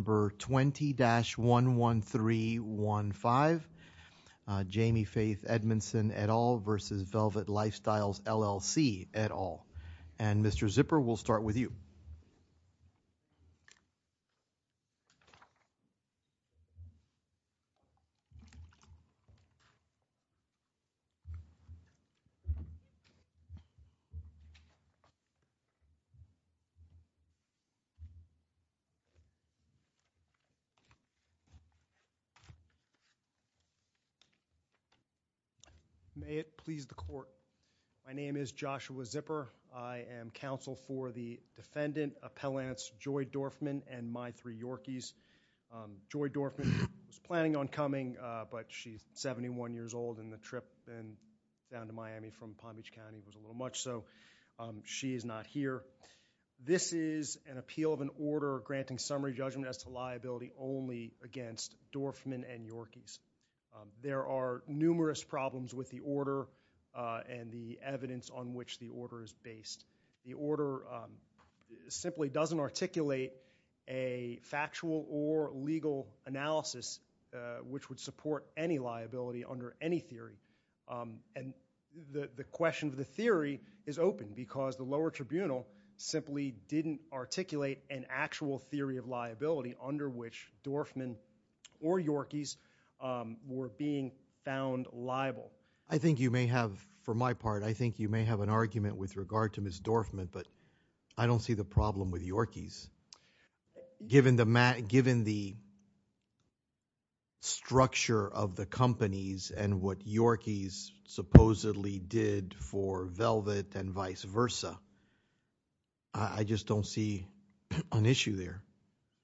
Number 20-11315, Jamie Faith Edmondson et al. v. Velvet Lifestyles, LLC et al. And Mr. Zipper, we'll start with you. May it please the court. My name is Joshua Zipper. I am counsel for the defendant appellants Joy Dorfman and my three Yorkies. Joy Dorfman was planning on coming but she's 71 years old and the trip down to Miami from Palm Beach County was a little much so she is not here. This is an appeal of an order granting summary judgment as to liability only against Dorfman and Yorkies. There are numerous problems with the order and the evidence on which the order is based. The order simply doesn't articulate a factual or legal analysis which would support any liability under any theory. And the question of the theory is open because the lower tribunal simply didn't articulate an actual theory of liability under which Dorfman or Yorkies were being found liable. I think you may have, for my part, I think you may have an argument with regard to Ms. Dorfman but I don't see the problem with Yorkies given the structure of the I just don't see an issue there.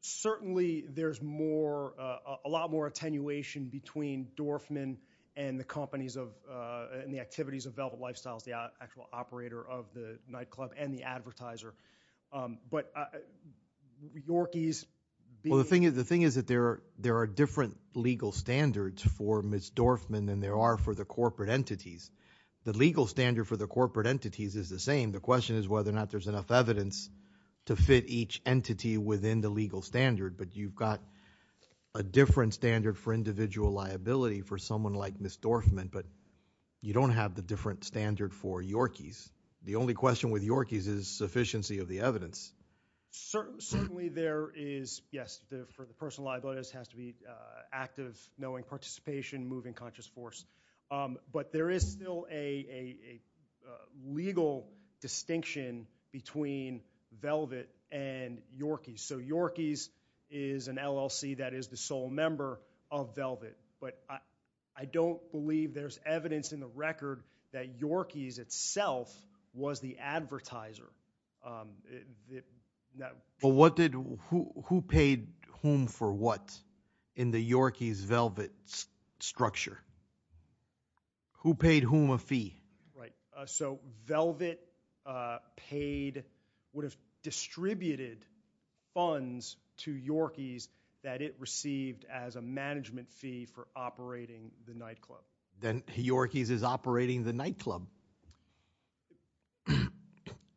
Certainly there's more, a lot more attenuation between Dorfman and the companies of and the activities of Velvet Lifestyles, the actual operator of the nightclub and the advertiser. But Yorkies... Well the thing is the thing is that there are different legal standards for Ms. Dorfman than there are for the corporate entities. The legal standard for the corporate entities is the same. The question is whether or not there's enough evidence to fit each entity within the legal standard. But you've got a different standard for individual liability for someone like Ms. Dorfman but you don't have the different standard for Yorkies. The only question with Yorkies is sufficiency of the evidence. Certainly there is, yes, for the personal liabilities has to be active, knowing participation, moving conscious force. But there is still a legal distinction between Velvet and Yorkies. So Yorkies is an LLC that is the sole member of Velvet. But I don't believe there's evidence in the record that Yorkies itself was the advertiser. But what did, who paid whom for what in the Yorkies Velvet structure? Who paid whom a fee? Right, so Velvet paid, would have distributed funds to Yorkies that it received as a management fee for operating the nightclub. Then Yorkies is operating the nightclub.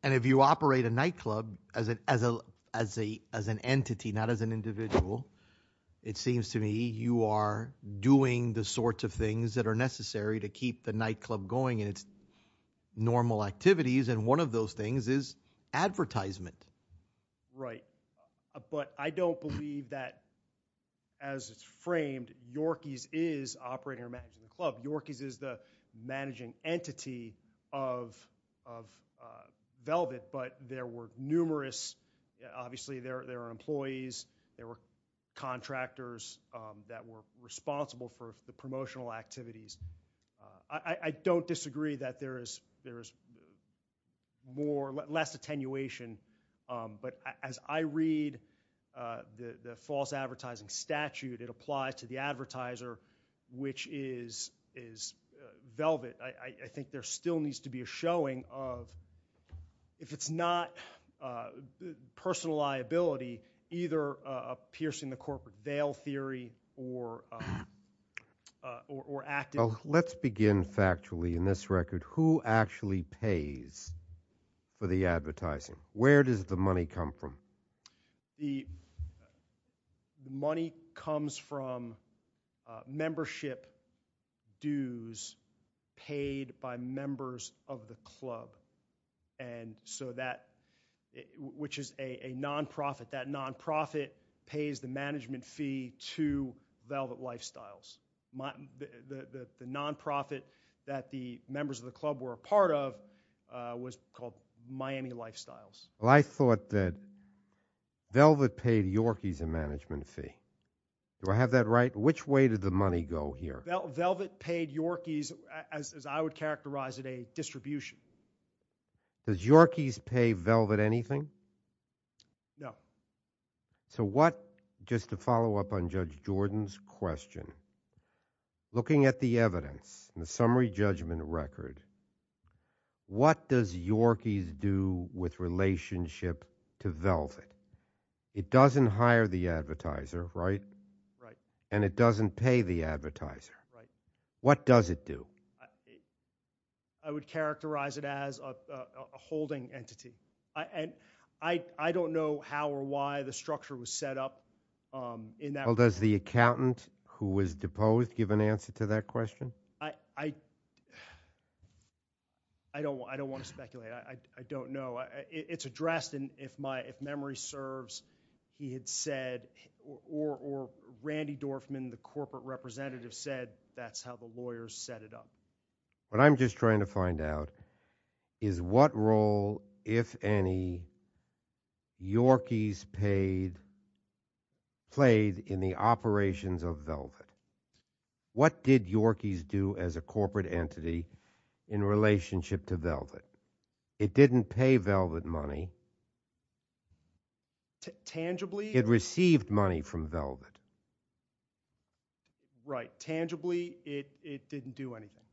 And if you operate a nightclub as an entity, not as an individual, it seems to me you are doing the sorts of things that are necessary to keep the nightclub going in its normal activities. And one of those things is advertisement. Right, but I don't believe that as it's framed Yorkies is operating or managing the club. Yorkies is the managing entity of Velvet. But there were employees, there were contractors that were responsible for the promotional activities. I don't disagree that there is more, less attenuation. But as I read the false advertising statute, it applies to the advertiser, which is Velvet. I think there still needs to be a showing of, if it's not personal liability, either piercing the corporate veil theory or acting. Well, let's begin factually in this record. Who actually pays for the advertising? Where does the money come from? The money comes from membership dues paid by members of the club. And so that, which is a non-profit, that non-profit pays the management fee to Velvet Lifestyles. The non-profit that the members of the club were a part of was called Miami Lifestyles. Well, I thought that Velvet paid Yorkies a management fee. Do I have that right? Which way did the money go here? Velvet paid Yorkies, as I would characterize it, a distribution. Does Yorkies pay Velvet anything? No. So what, just to follow up on Judge Jordan's question, looking at the evidence, the summary judgment record, what does Yorkies do with relationship to Velvet? It doesn't hire the advertiser, right? Right. And it doesn't pay the advertiser. Right. What does it do? I would characterize it as a holding entity. And I don't know how or why the structure was set up. Well, does the accountant who was deposed give an answer to that question? I don't want to speculate. I don't know. It's addressed. And if memory serves, he had said, or Randy Dorfman, the corporate representative said, that's how the lawyers set it up. What I'm just trying to find out is what role, if any, Yorkies played in the operations of Velvet? What did Yorkies do as a corporate entity in relationship to Velvet? It didn't pay Velvet money. Tangibly. It received money from Velvet. Right. Tangibly, it didn't do anything.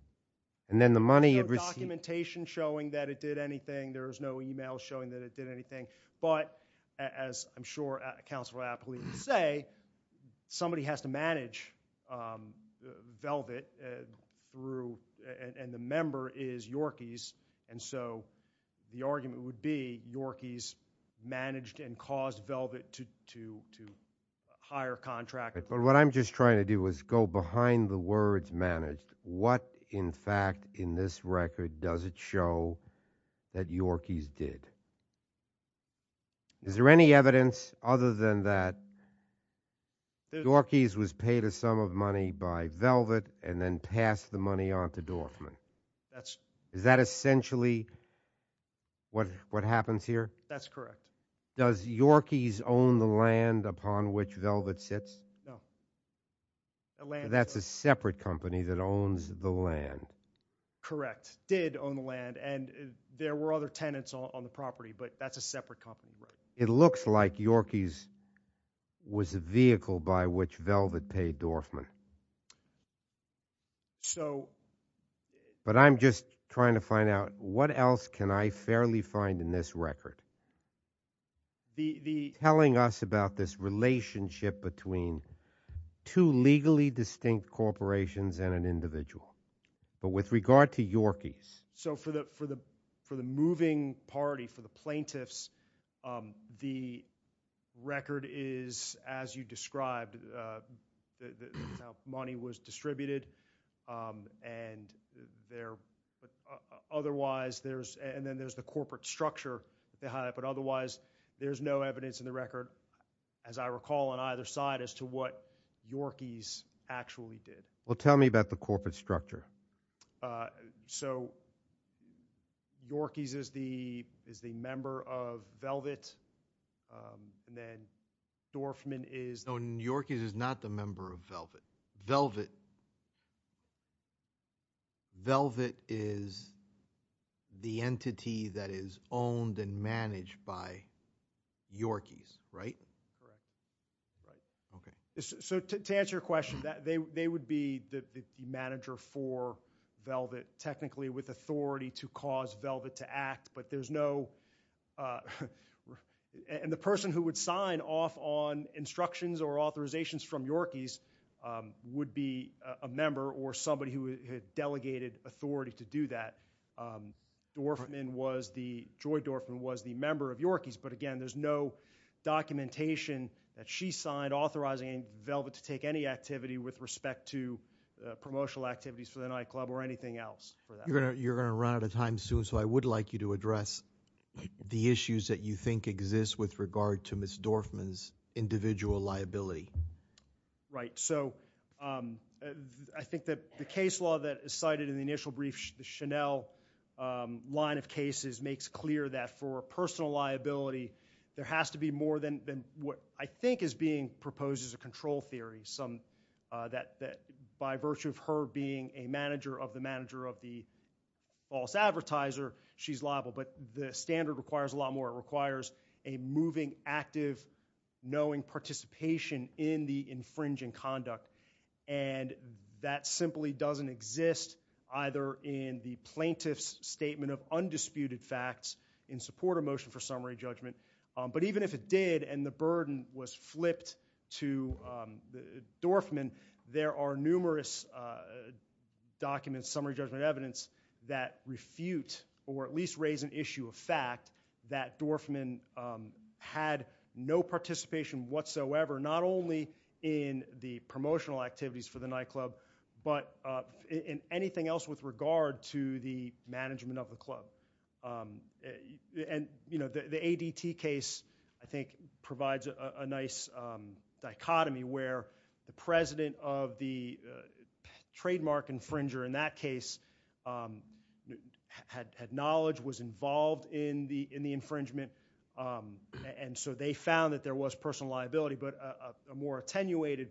And then the money it received. There's no documentation showing that it did anything. There's no email showing that it did anything. Velvet threw, and the member is Yorkies. And so the argument would be Yorkies managed and caused Velvet to hire contractors. But what I'm just trying to do is go behind the words managed. What, in fact, in this record, does it show that Yorkies did? Is there any evidence other than that Yorkies was paid a sum of money by Velvet and then passed the money on to Dorfman? That's. Is that essentially what happens here? That's correct. Does Yorkies own the land upon which Velvet sits? No. That's a separate company that owns the land. Correct. Did own the land. And there were other tenants on the property, but that's a separate company. It looks like Yorkies was a vehicle by which Velvet paid Dorfman. So. But I'm just trying to find out what else can I fairly find in this record? The. Telling us about this relationship between two legally distinct corporations and an individual. But with regard to Yorkies. So for the for the for the moving party, for the plaintiffs, the record is, as you described, money was distributed. And there. Otherwise, there's and then there's the corporate structure, the hype, but otherwise there's no evidence in the record, as I recall, on either side as to what Yorkies actually did. Well, tell me about the corporate structure. Uh, so. Yorkies is the is the member of Velvet. And then Dorfman is. No, Yorkies is not the member of Velvet. Velvet. Velvet is the entity that is owned and managed by Yorkies, right? Correct. Right. OK. So to answer your question that they would be the manager for Velvet, technically with authority to cause Velvet to act. But there's no. And the person who would sign off on instructions or authorizations from Yorkies would be a member or somebody who had delegated authority to do that. Dorfman was the Joy Dorfman was the member of Yorkies. But again, there's no documentation that she signed authorizing Velvet to take any activity with respect to promotional activities for the nightclub or anything else. You're going to run out of time soon, so I would like you to address the issues that you think exist with regard to Miss Dorfman's individual liability. Right, so I think that the case law that is cited in the initial brief, the Chanel line of cases, makes clear that for personal liability, there has to be more than what I think is being proposed as a control theory. By virtue of her being a manager of the manager of the false advertiser, she's liable. But the standard requires a lot more. It requires a moving, active, knowing participation in the infringing conduct. And that simply doesn't exist either in the plaintiff's statement of undisputed facts in support of motion for summary judgment. But even if it did and the burden was flipped to Dorfman, there are numerous documents, summary judgment evidence, that refute or at least raise an issue of fact that Dorfman had no participation whatsoever, not only in the promotional activities for the nightclub, but in anything else with regard to the management of the club. And the ADT case, I think, provides a nice dichotomy where the president of the in the infringement, and so they found that there was personal liability. But a more attenuated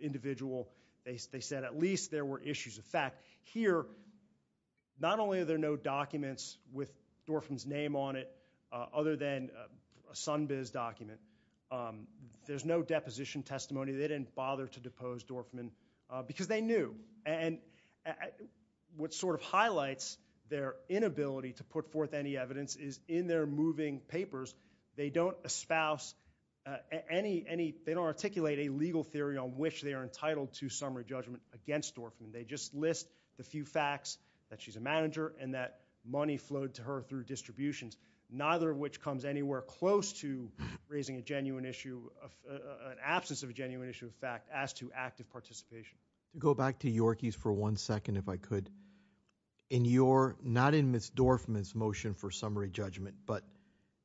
individual, they said at least there were issues of fact. Here, not only are there no documents with Dorfman's name on it, other than a Sunbiz document, there's no deposition testimony. They didn't bother to depose Dorfman because they knew. And what sort of highlights their inability to put forth any evidence is in their moving papers, they don't espouse any, they don't articulate a legal theory on which they are entitled to summary judgment against Dorfman. They just list the few facts that she's a manager and that money flowed to her through distributions, neither of which comes anywhere close to raising a genuine issue, an absence of a genuine issue of fact as to active participation. Go back to Yorkies for one second, if I could. In your, not in Ms. Dorfman's motion for summary judgment, but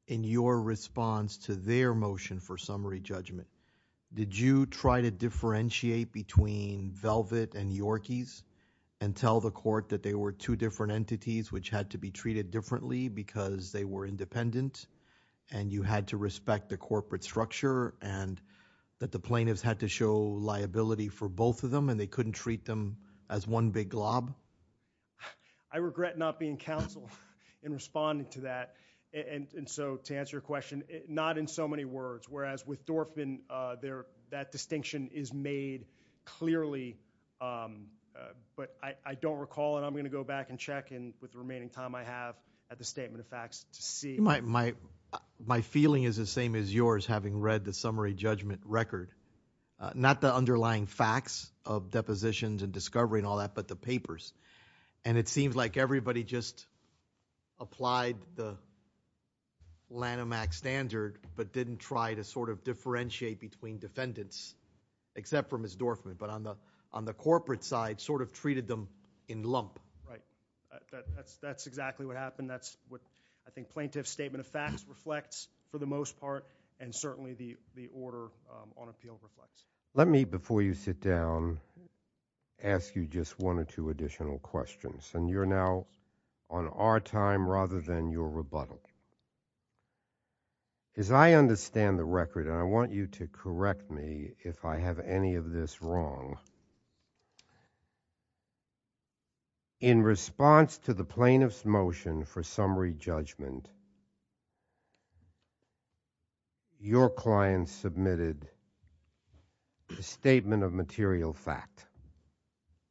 in your response to their motion for summary judgment, did you try to differentiate between Velvet and Yorkies and tell the court that they were two different entities which had to be treated differently because they were independent and you had to respect the corporate structure and that the plaintiffs had to show liability for both of them and they couldn't treat them as one big glob? I regret not being counsel in responding to that. And so to answer your question, not in so many words. Whereas with Dorfman, that distinction is made clearly, but I don't recall and I'm going to go back and check and with the remaining time I have at the statement of facts to see. My feeling is the same as yours, having read the summary judgment record. Not the underlying facts of depositions and discovery and all that, but the papers. And it seems like everybody just applied the Lanham Act standard, but didn't try to sort of differentiate between defendants, except for Ms. Dorfman, but on the corporate side, sort of treated them in lump. Right. That's exactly what happened. That's what I think plaintiff's statement of facts reflects for the most part and certainly the order on appeal reflects. Let me, before you sit down, ask you just one or two additional questions and you're now on our time rather than your rebuttal. As I understand the record, and I want you to correct me if I have any of this wrong. In response to the plaintiff's motion for summary judgment, your client submitted a statement of material fact.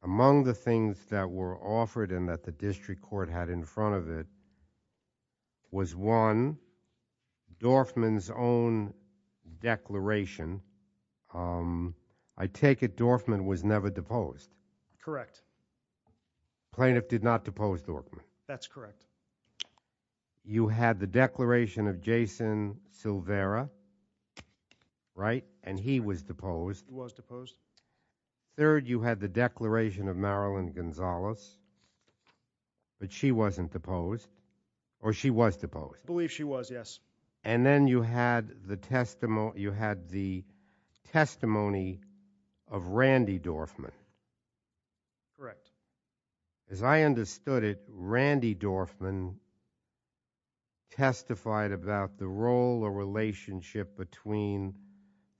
Among the things that were offered and that the district court had in front of it was one, Dorfman's own declaration. I take it Dorfman was never deposed. Correct. Plaintiff did not depose Dorfman. That's correct. You had the declaration of Jason Silvera, right, and he was deposed. He was deposed. Third, you had the declaration of Marilyn Gonzalez, but she wasn't deposed or she was deposed. I believe she was, yes. And then you had the testimony of Randy Dorfman. Correct. As I understood it, Randy Dorfman testified about the role or relationship between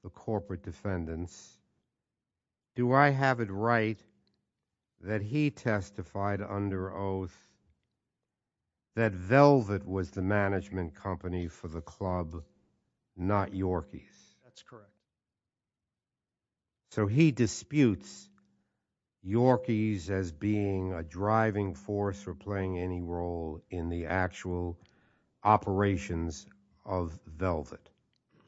the corporate defendants. Do I have it right that he testified under oath that Velvet was the management company for the club, not Yorkies? That's correct. So he disputes Yorkies as being a driving force for playing any role in the actual operations of Velvet.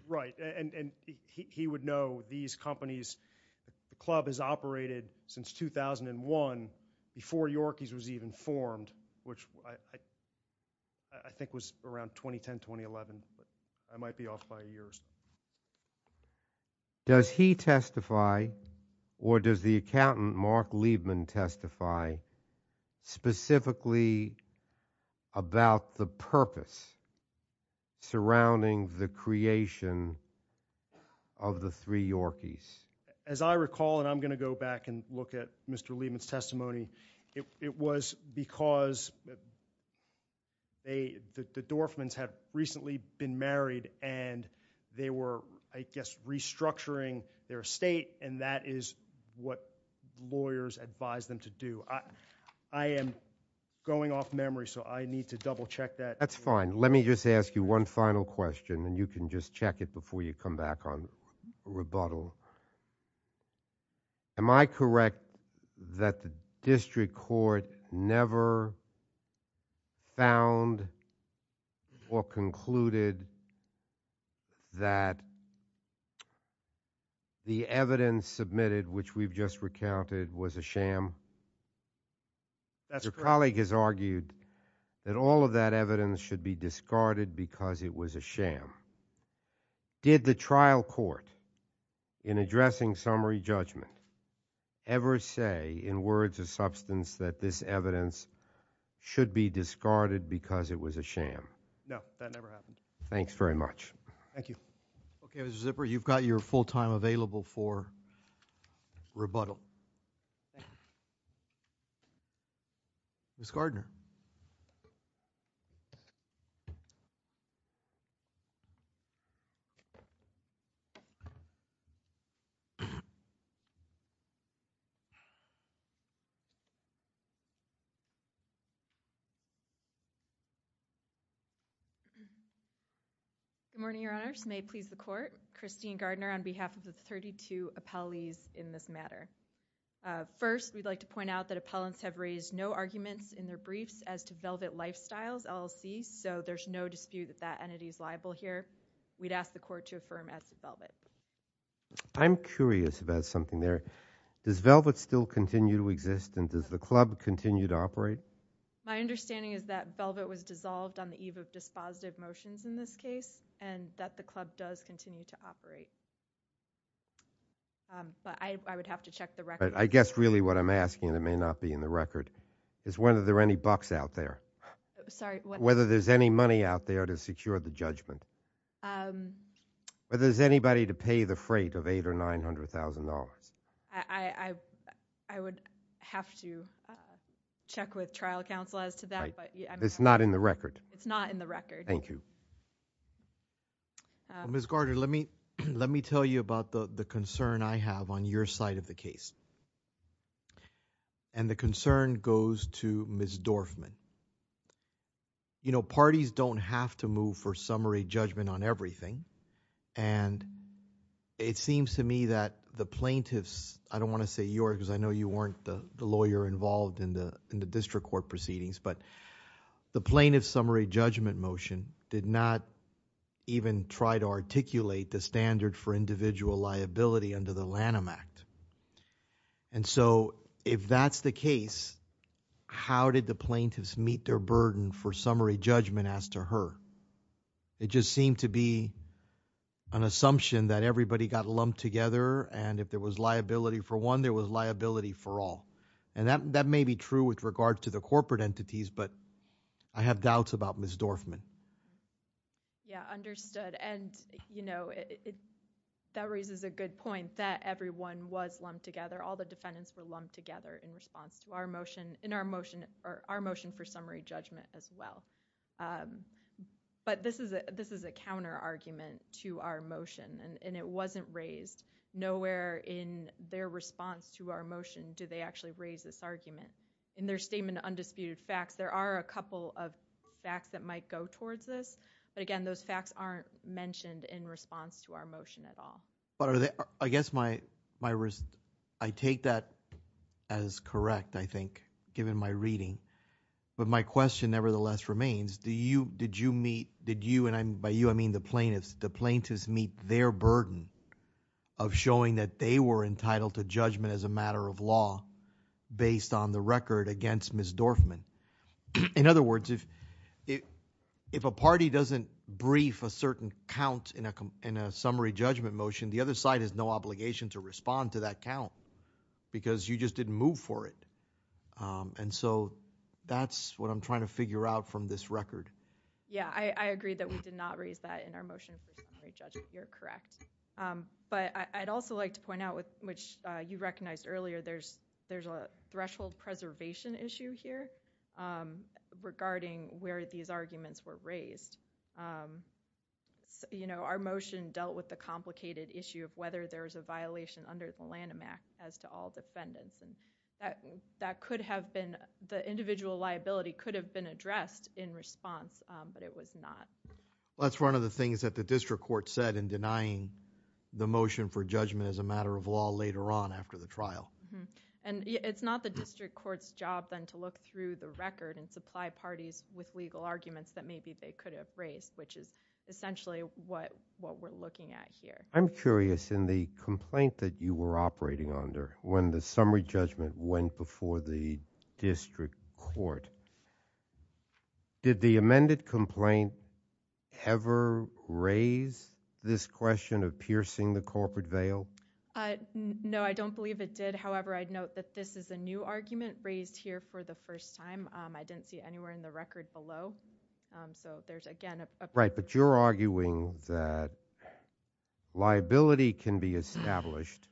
Right, and he would know these companies, the club has operated since 2001 before Yorkies was even formed. Which I think was around 2010-2011, but I might be off by years. Does he testify or does the accountant Mark Liebman testify specifically about the purpose surrounding the creation of the three Yorkies? As I recall, and I'm going to go back and look at Mr. Liebman's testimony, it was because the Dorfmans had recently been married and they were, I guess, restructuring their estate, and that is what lawyers advise them to do. I am going off memory, so I need to double check that. That's fine. Let me just ask you one final question, and you can just check it before you come back on rebuttal. So, am I correct that the district court never found or concluded that the evidence submitted, which we've just recounted, was a sham? That's correct. Your colleague has argued that all of that evidence should be discarded because it was a sham. Did the trial court, in addressing summary judgment, ever say in words of substance that this evidence should be discarded because it was a sham? No, that never happened. Thanks very much. Thank you. Okay, Mr. Zipper, you've got your full time available for rebuttal. Ms. Gardner. Good morning, Your Honors. May it please the court. Christine Gardner on behalf of the 32 appellees in this matter. First, we'd like to point out that appellants have raised no arguments in their briefs as to Velvet Lifestyles LLC, so there's no dispute that that entity is liable here. We'd ask the court to affirm as to Velvet. I'm curious about something there. Does Velvet still continue to exist, and does the club continue to operate? My understanding is that Velvet was dissolved on the eve of dispositive motions in this case, and that the club does continue to operate. But I would have to check the record. I guess really what I'm asking, and it may not be in the record, is whether there are any bucks out there. Sorry. Whether there's any money out there to secure the judgment. Whether there's anybody to pay the freight of $800,000 or $900,000. I would have to check with trial counsel as to that, but- It's not in the record. It's not in the record. Thank you. Ms. Gardner, let me tell you about the concern I have on your side of the case. And the concern goes to Ms. Dorfman. Parties don't have to move for summary judgment on everything. And it seems to me that the plaintiffs, I don't want to say yours, because I know you weren't the lawyer involved in the district court proceedings, but the plaintiff's summary judgment motion did not even try to articulate the standard for individual liability under the Lanham Act. And so if that's the case, how did the plaintiffs meet their burden for summary judgment as to her? It just seemed to be an assumption that everybody got lumped together and if there was liability for one, there was liability for all. And that may be true with regard to the corporate entities, but I have doubts about Ms. Dorfman. Yeah, understood. And, you know, that raises a good point that everyone was lumped together. All the defendants were lumped together in response to our motion, or our motion for summary judgment as well. But this is a counter argument to our motion and it wasn't raised. Nowhere in their response to our motion do they actually raise this argument. In their statement of undisputed facts, there are a couple of facts that might go towards this. But again, those facts aren't mentioned in response to our motion at all. But I guess I take that as correct, I think, given my reading. But my question nevertheless remains, did you and by you I mean the plaintiffs, the plaintiffs meet their burden of showing that they were entitled to judgment as a matter of law based on the record against Ms. Dorfman? In other words, if a party doesn't brief a certain count in a summary judgment motion, the other side has no obligation to respond to that count because you just didn't move for it. And so that's what I'm trying to figure out from this record. Yeah, I agree that we did not raise that in our motion for summary judgment. You're correct. But I'd also like to point out, which you recognized earlier, there's a threshold preservation issue here regarding where these arguments were raised. So, you know, our motion dealt with the complicated issue of whether there was a violation under the Lanham Act as to all defendants. And that could have been the individual liability could have been addressed in response, but it was not. Well, that's one of the things that the district court said in denying the motion for judgment as a matter of law later on after the trial. And it's not the district court's job then to look through the record and supply parties with legal arguments that maybe they could have raised, which is essentially what we're looking at here. I'm curious in the complaint that you were operating under when the summary judgment went before the district court, did the amended complaint ever raise this question of piercing the corporate veil? No, I don't believe it did. However, I'd note that this is a new argument raised here for the first time. I didn't see anywhere in the record below. So there's again- Right, but you're arguing that liability can be established,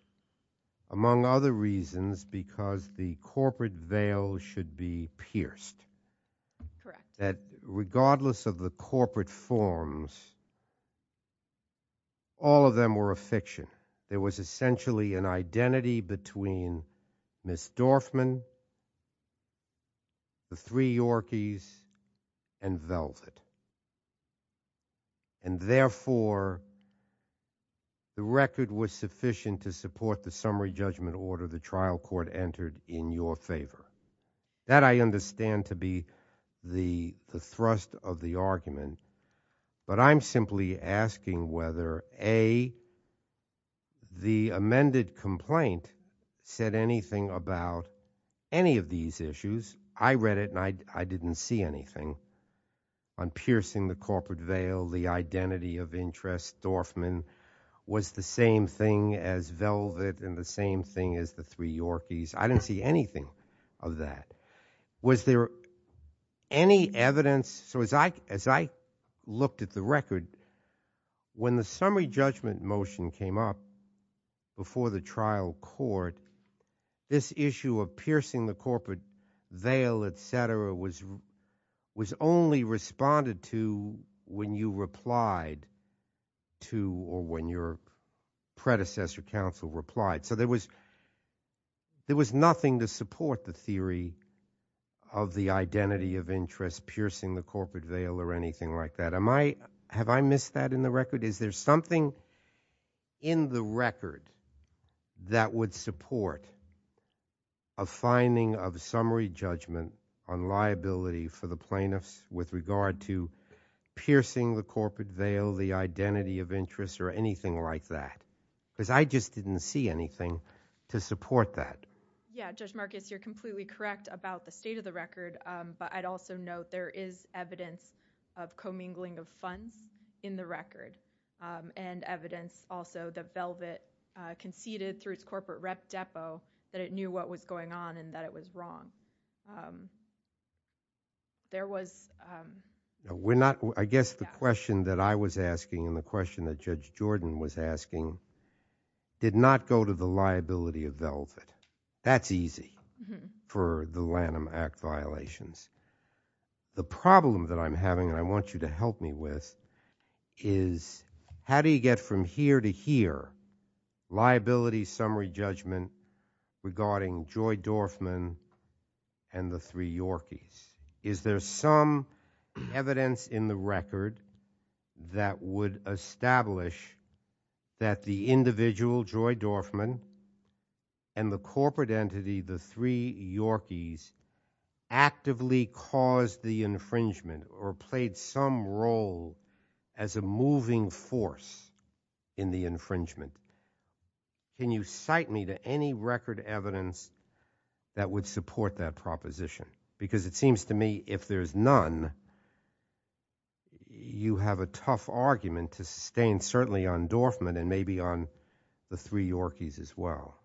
among other reasons, because the corporate veil should be pierced. Correct. That regardless of the corporate forms, all of them were a fiction. There was essentially an identity between Ms. Dorfman, the three Yorkies, and Velvet. And therefore, the record was sufficient to support the summary judgment order the trial court entered in your favor. That I understand to be the thrust of the argument. But I'm simply asking whether A, the amended complaint said anything about any of these issues. I read it and I didn't see anything on piercing the corporate veil, the identity of interest, Dorfman was the same thing as Velvet and the same thing as the three Yorkies. I didn't see anything of that. Was there any evidence? So as I looked at the record, when the summary judgment motion came up before the trial court, this issue of piercing the corporate veil, etc., was only responded to when you replied to, or when your predecessor counsel replied. So there was nothing to support the theory of the identity of interest piercing the corporate veil or anything like that. Have I missed that in the record? Is there something in the record that would support a finding of summary judgment on liability for the plaintiffs with regard to piercing the corporate veil, the identity of interest, or anything like that? Because I just didn't see anything to support that. Yeah, Judge Marcus, you're completely correct about the state of the record. But I'd also note there is evidence of commingling of funds in the record and evidence also that Velvet conceded through its corporate rep depo that it knew what was going on and that it was wrong. There was... I guess the question that I was asking and the question that Judge Jordan was asking did not go to the liability of Velvet. That's easy for the Lanham Act violations. The problem that I'm having, and I want you to help me with, is how do you get from here to here liability summary judgment regarding Joy Dorfman and the three Yorkies? Is there some evidence in the record that would establish that the individual Joy Dorfman and the corporate entity, the three Yorkies, actively caused the infringement or played some role as a moving force in the infringement? Can you cite me to any record evidence that would support that proposition? Because it seems to me if there's none, then you have a tough argument to sustain, certainly on Dorfman and maybe on the three Yorkies as well.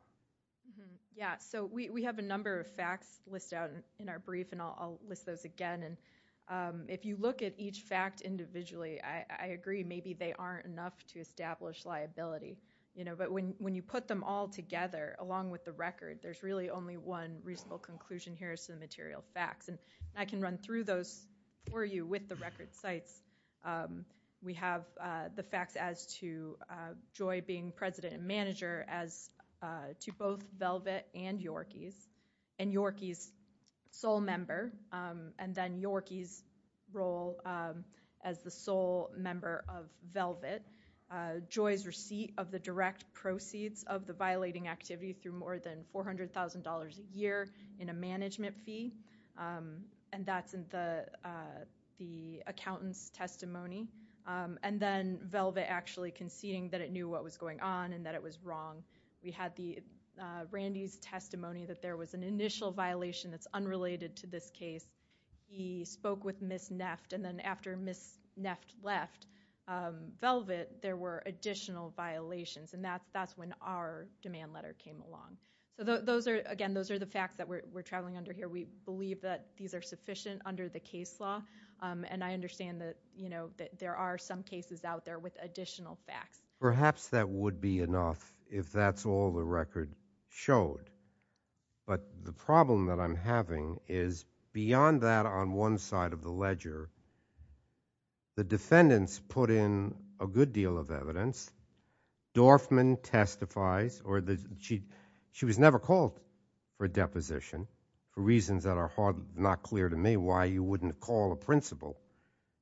Yeah. So we have a number of facts listed out in our brief and I'll list those again. And if you look at each fact individually, I agree maybe they aren't enough to establish liability, you know, but when you put them all together along with the record, there's really only one reasonable conclusion here is to the material facts. I can run through those for you with the record sites. We have the facts as to Joy being president and manager as to both Velvet and Yorkies, and Yorkies sole member, and then Yorkies role as the sole member of Velvet. Joy's receipt of the direct proceeds of the violating activity through more than $400,000 a year in a management fee. And that's in the accountant's testimony. And then Velvet actually conceding that it knew what was going on and that it was wrong. We had Randy's testimony that there was an initial violation that's unrelated to this case. He spoke with Ms. Neft and then after Ms. Neft left Velvet, there were additional violations and that's when our demand letter came along. So those are, again, those are the facts that we're traveling under here. We believe that these are sufficient under the case law and I understand that, you know, that there are some cases out there with additional facts. Perhaps that would be enough if that's all the record showed. But the problem that I'm having is beyond that on one side of the ledger, the defendants put in a good deal of evidence. Dorfman testifies or she was never called for a deposition for reasons that are not clear to me why you wouldn't call a principal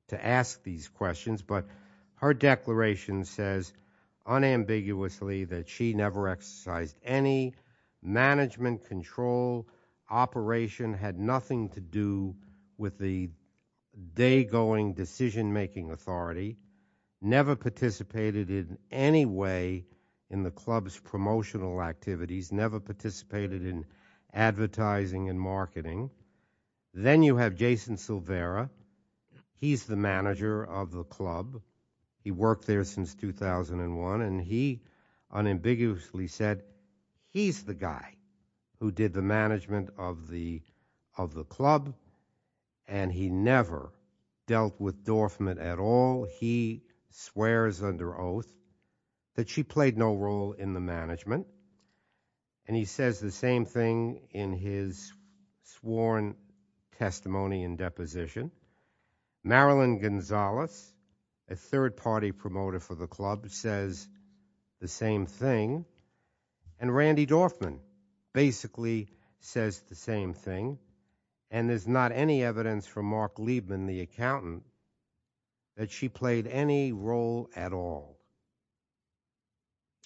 to ask these questions. But her declaration says unambiguously that she never exercised any management control operation, had nothing to do with the day-going decision-making authority, never participated in any way in the club's promotional activities, never participated in advertising and marketing. Then you have Jason Silvera. He's the manager of the club. He worked there since 2001 and he unambiguously said he's the guy who did the management of the club and he never dealt with Dorfman at all. He swears under oath that she played no role in the management and he says the same thing in his sworn testimony and deposition. Marilyn Gonzalez, a third-party promoter for the club, says the same thing. And Randy Dorfman basically says the same thing. And there's not any evidence from Mark Liebman, the accountant, that she played any role at all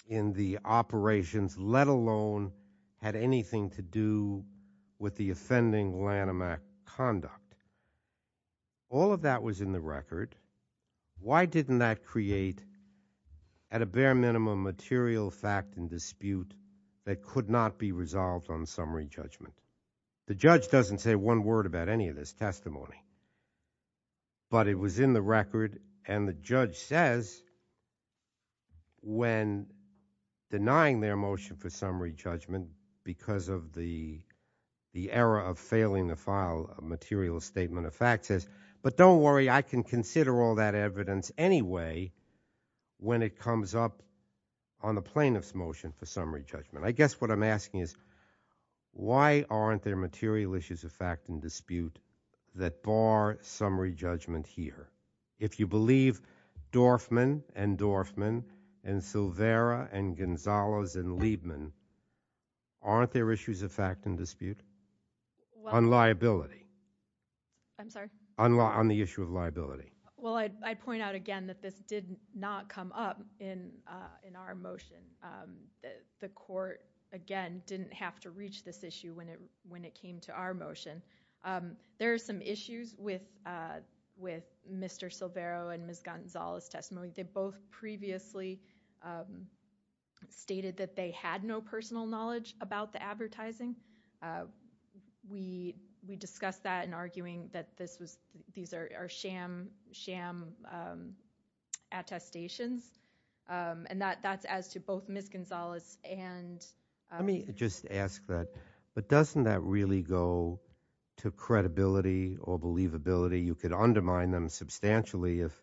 in the operations, let alone had anything to do with the offending Lanham Act conduct. All of that was in the record. Why didn't that create at a bare minimum material fact and dispute that could not be resolved on summary judgment? The judge doesn't say one word about any of this testimony. But it was in the record and the judge says, when denying their motion for summary judgment because of the error of failing to file a material statement of fact, says, but don't worry, I can consider all that evidence anyway when it comes up on the plaintiff's motion for summary judgment. I guess what I'm asking is why aren't there material issues of fact and dispute that bar summary judgment here? If you believe Dorfman and Dorfman and Silvera and Gonzalez and Liebman, aren't there issues of fact and dispute on liability? I'm sorry? On the issue of liability. Well, I'd point out again that this did not come up in our motion. The court, again, didn't have to reach this issue when it came to our motion. There are some issues with Mr. Silvera and Ms. Gonzalez' testimony. They both previously stated that they had no personal knowledge about the advertising. We discussed that in arguing that these are sham attestations. And that's as to both Ms. Gonzalez and- But doesn't that really go to credibility or believability? You could undermine them substantially if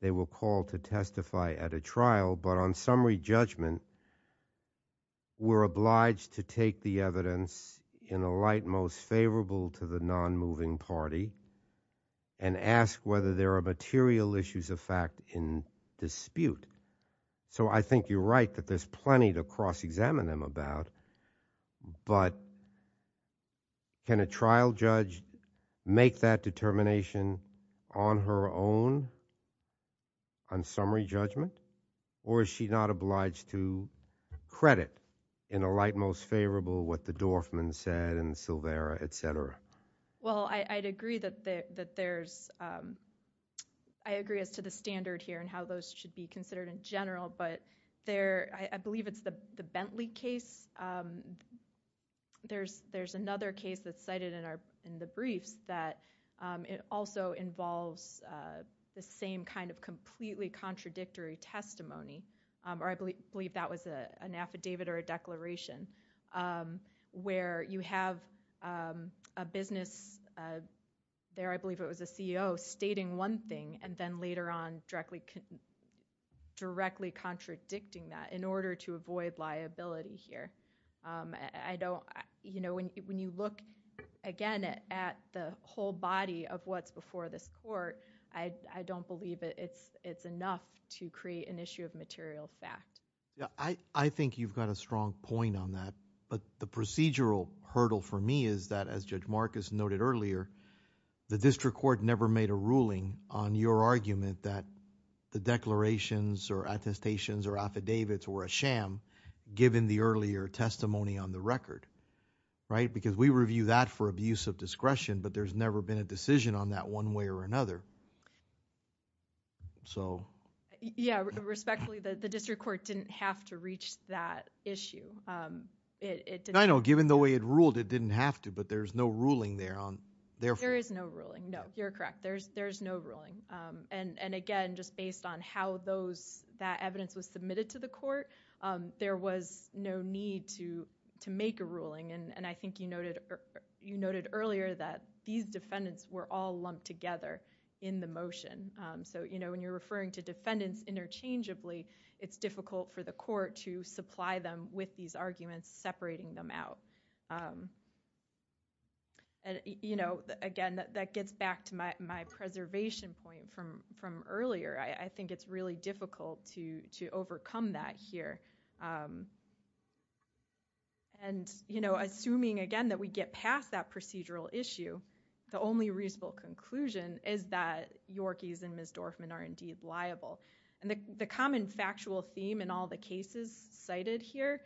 they were called to testify at a trial. But on summary judgment, we're obliged to take the evidence in the light most favorable to the non-moving party and ask whether there are material issues of fact in dispute. So I think you're right that there's plenty to cross-examine them about. But can a trial judge make that determination on her own on summary judgment? Or is she not obliged to credit in the light most favorable what the Dorfman said and Silvera, et cetera? Well, I'd agree that there's- I agree as to the standard here and how those should be considered in general. But I believe it's the Bentley case. There's another case that's cited in the briefs that it also involves the same kind of completely contradictory testimony. Or I believe that was an affidavit or a declaration where you have a business- There, I believe it was a CEO stating one thing and then later on directly contradicting that in order to avoid liability here. When you look again at the whole body of what's before this court, I don't believe it's enough to create an issue of material fact. Yeah, I think you've got a strong point on that. But the procedural hurdle for me is that, as Judge Marcus noted earlier, the district court never made a ruling on your argument that the declarations or attestations or affidavits were a sham given the earlier testimony on the record, right? Because we review that for abuse of discretion, but there's never been a decision on that one way or another. Yeah, respectfully, the district court didn't have to reach that issue. I know, given the way it ruled, it didn't have to. But there's no ruling there on- There is no ruling, no. You're correct, there's no ruling. And again, just based on how that evidence was submitted to the court, there was no need to make a ruling. And I think you noted earlier that these defendants were all lumped together in the motion. When you're referring to defendants interchangeably, it's difficult for the court to supply them with these arguments, separating them out. And again, that gets back to my preservation point from earlier. I think it's really difficult to overcome that here. And assuming, again, that we get past that procedural issue, the only reasonable conclusion is that Yorkies and Ms. Dorfman are indeed liable. And the common factual theme in all the cases cited here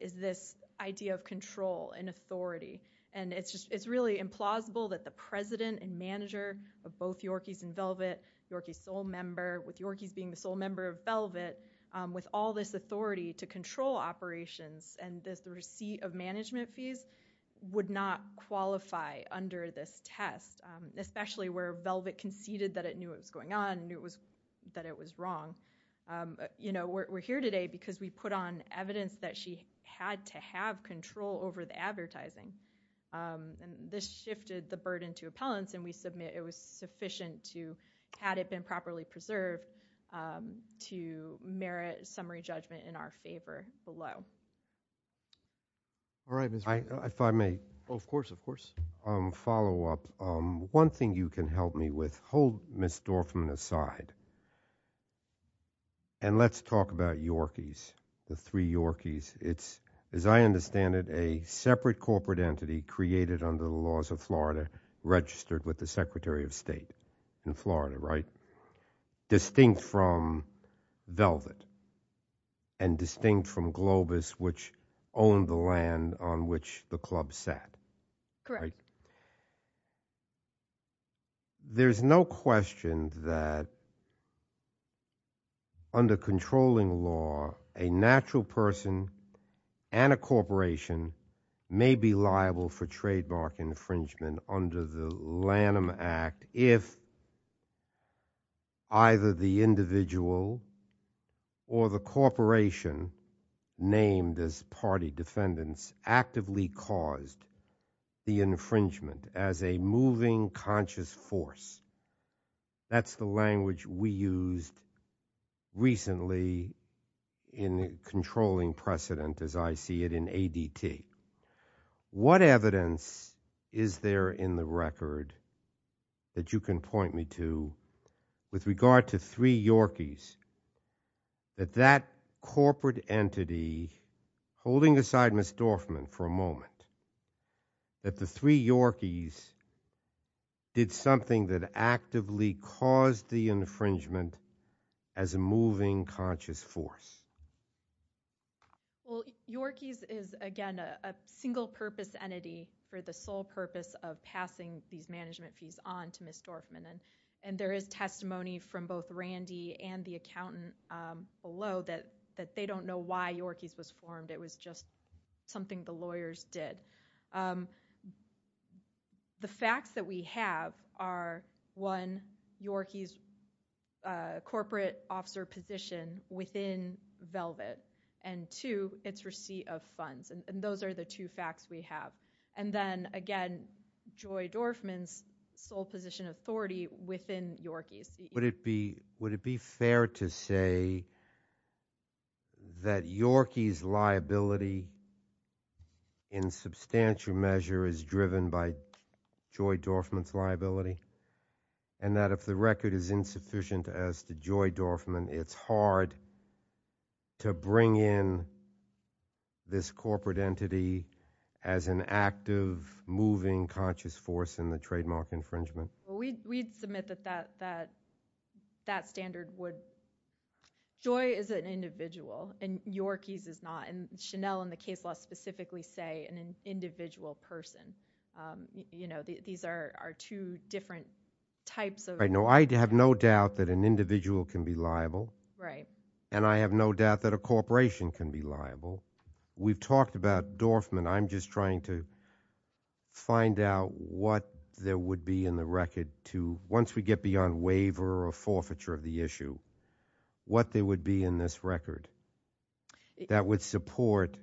is this idea of control and authority. And it's really implausible that the president and manager of both Yorkies and Velvet, Yorkies sole member, with Yorkies being the sole member of Velvet, with all this authority to control operations and this receipt of management fees, would not qualify under this test, especially where Velvet conceded that it knew it was going on, knew that it was wrong. You know, we're here today because we put on evidence that she had to have control over the and this shifted the burden to appellants and we submit it was sufficient to, had it been properly preserved, to merit summary judgment in our favor below. All right, if I may. Oh, of course, of course. Follow up. One thing you can help me with, hold Ms. Dorfman aside. And let's talk about Yorkies, the three Yorkies. It's, as I understand it, a separate corporate entity created under the laws of Florida, registered with the Secretary of State in Florida, right? Distinct from Velvet and distinct from Globus, which owned the land on which the club sat. Correct. Right. There's no question that under controlling law, a natural person and a corporation may be liable for trademark infringement under the Lanham Act if either the individual or the corporation named as party defendants actively caused the infringement as a moving conscious force. That's the language we used recently in controlling precedent as I see it in ADT. What evidence is there in the record that you can point me to with regard to three Yorkies that that corporate entity, holding aside Ms. Dorfman for a moment, that the three Yorkies did something that actively caused the infringement as a moving conscious force? Well, Yorkies is, again, a single purpose entity for the sole purpose of passing these to the accountant below that they don't know why Yorkies was formed. It was just something the lawyers did. The facts that we have are, one, Yorkies' corporate officer position within Velvet, and two, its receipt of funds. And those are the two facts we have. And then, again, Joy Dorfman's sole position authority within Yorkies. Would it be fair to say that Yorkies' liability in substantial measure is driven by Joy Dorfman's liability? And that if the record is insufficient as to Joy Dorfman, it's hard to bring in this corporate entity as an active moving conscious force in the trademark infringement? Well, we'd submit that that standard would. Joy is an individual, and Yorkies is not. And Chanel and the case law specifically say an individual person. You know, these are two different types of... Right. No, I have no doubt that an individual can be liable. Right. And I have no doubt that a corporation can be liable. We've talked about Dorfman. I'm just to... Once we get beyond waiver or forfeiture of the issue, what there would be in this record that would support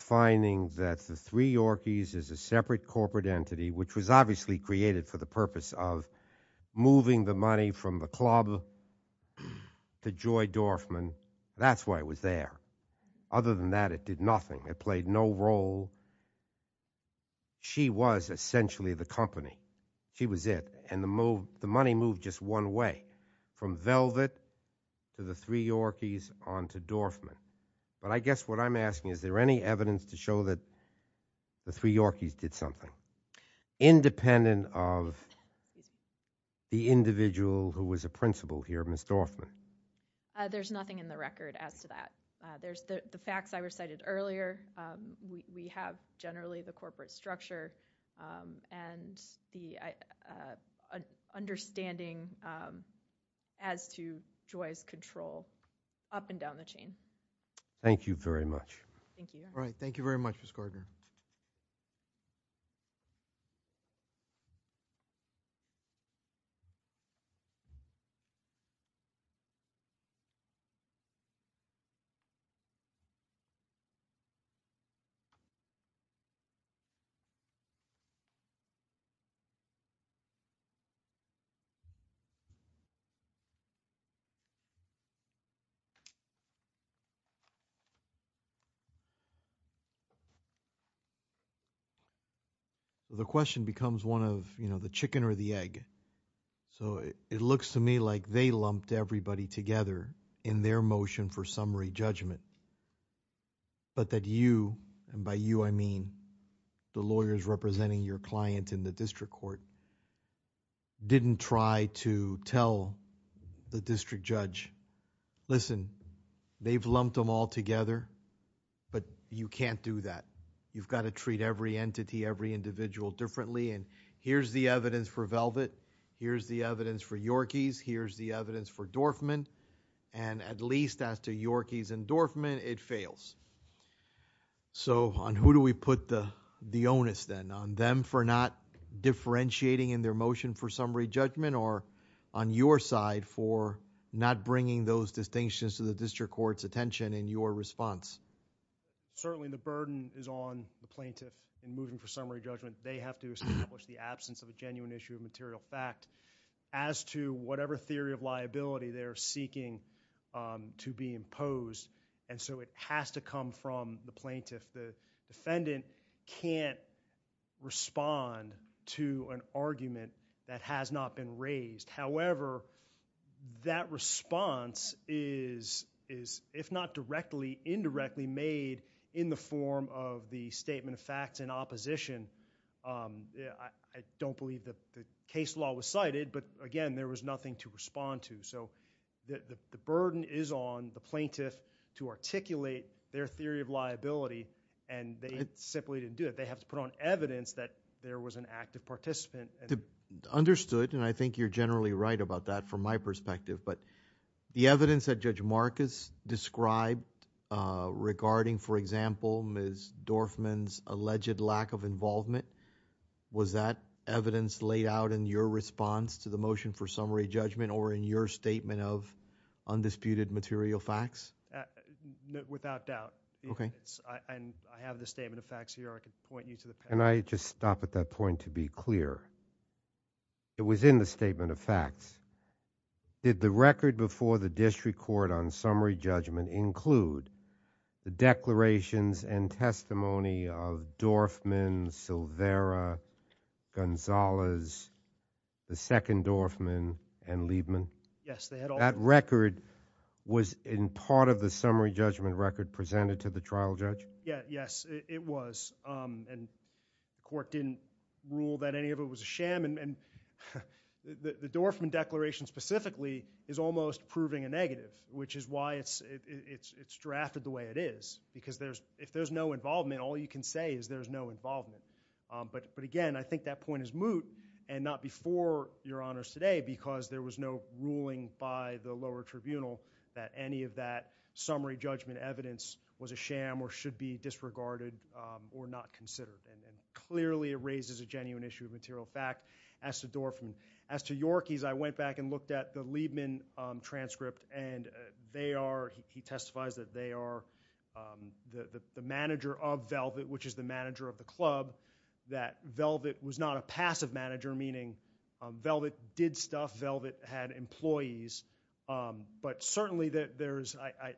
finding that the three Yorkies is a separate corporate entity, which was obviously created for the purpose of moving the money from the club to Joy Dorfman. That's why it was there. Other than that, it did nothing. It played no role. She was essentially the company. She was it. And the money moved just one way, from Velvet to the three Yorkies on to Dorfman. But I guess what I'm asking, is there any evidence to show that the three Yorkies did something independent of the individual who was a principal here, Ms. Dorfman? There's nothing in the record as to that. There's the facts I recited earlier. We have generally the corporate structure and the understanding as to Joy's control up and down the chain. Thank you very much. Thank you. All right. Thank you very much, Ms. Gardner. Thank you. The question becomes one of, you know, the chicken or the egg. So it looks to me like they lumped everybody together in their motion for summary judgment, but that you, and by you I mean the lawyers representing your client in the district court, didn't try to tell the district judge, listen, they've lumped them all together, but you can't do that. You've got to treat every entity, every individual differently. And here's the evidence for Velvet. Here's the evidence for Yorkies. Here's the evidence for Dorfman. And at least as to Yorkies and Dorfman, it fails. So on who do we put the onus then? On them for not differentiating in their motion for summary judgment or on your side for not bringing those distinctions to the district court's attention in your response? Certainly the burden is on the plaintiff in moving for summary judgment. They have to establish the absence of a genuine issue of material fact as to whatever theory of liability they're seeking to be imposed. And so it has to come from the plaintiff. The defendant can't respond to an argument that has not been raised. However, that response is, if not directly, indirectly made in the form of the statement of facts and opposition. I don't believe the burden is on the plaintiff to articulate their theory of liability, and they simply didn't do it. They have to put on evidence that there was an active participant. Understood, and I think you're generally right about that from my perspective. But the evidence that Judge Marcus described regarding, for example, Ms. Dorfman's alleged lack of involvement, was that evidence laid out in your response to the motion for undisputed material facts? Without doubt. I have the statement of facts here. I can point you to the paper. Can I just stop at that point to be clear? It was in the statement of facts. Did the record before the district court on summary judgment include the declarations and testimony of Dorfman, Silvera, Gonzalez, the second Dorfman, and Liebman? Yes, they had all of them. That record was in part of the summary judgment record presented to the trial judge? Yeah, yes, it was. And the court didn't rule that any of it was a sham. And the Dorfman declaration specifically is almost proving a negative, which is why it's drafted the way it is. Because if there's no involvement, all you can say is there's no involvement. But again, I think that point is moot, and not before Your Honors today, because there was no ruling by the lower tribunal that any of that summary judgment evidence was a sham or should be disregarded or not considered. And clearly it raises a genuine issue of material fact. As to Dorfman, as to Yorkies, I went back and looked at the Liebman transcript, and they are, he testifies that they are the manager of Velvet, which is the manager of the club, that Velvet was not a passive manager, meaning Velvet did stuff, Velvet had employees. But certainly there is, I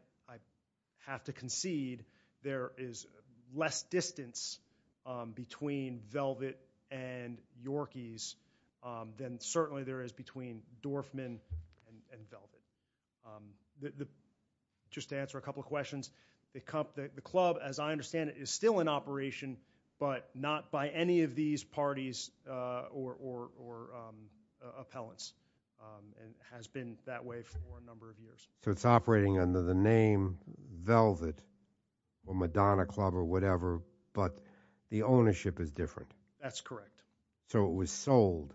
have to concede, there is less distance between Velvet and Yorkies than certainly there is between Dorfman and Velvet. Just to answer a couple of questions, the club, as I understand it, is still in operation, but not by any of these parties or appellants, and has been that way for a number of years. So it's operating under the name Velvet or Madonna Club or whatever, but the ownership is different. That's correct. So it was sold.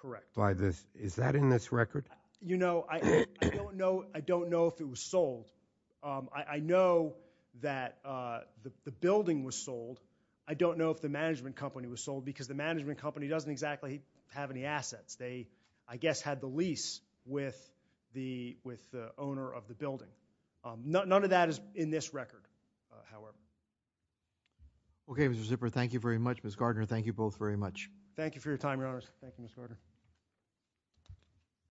Correct. By this, is that in this record? You know, I don't know if it was sold. I know that the building was sold. I don't know if the management company was sold, because the management company doesn't exactly have any assets. They, I guess, had the lease with the owner of the building. None of that is in this record, however. Okay, Mr. Zipper, thank you very much. Ms. Gardner, thank you both very much. Thank you for your time, Your Honors. Thank you, Ms. Gardner.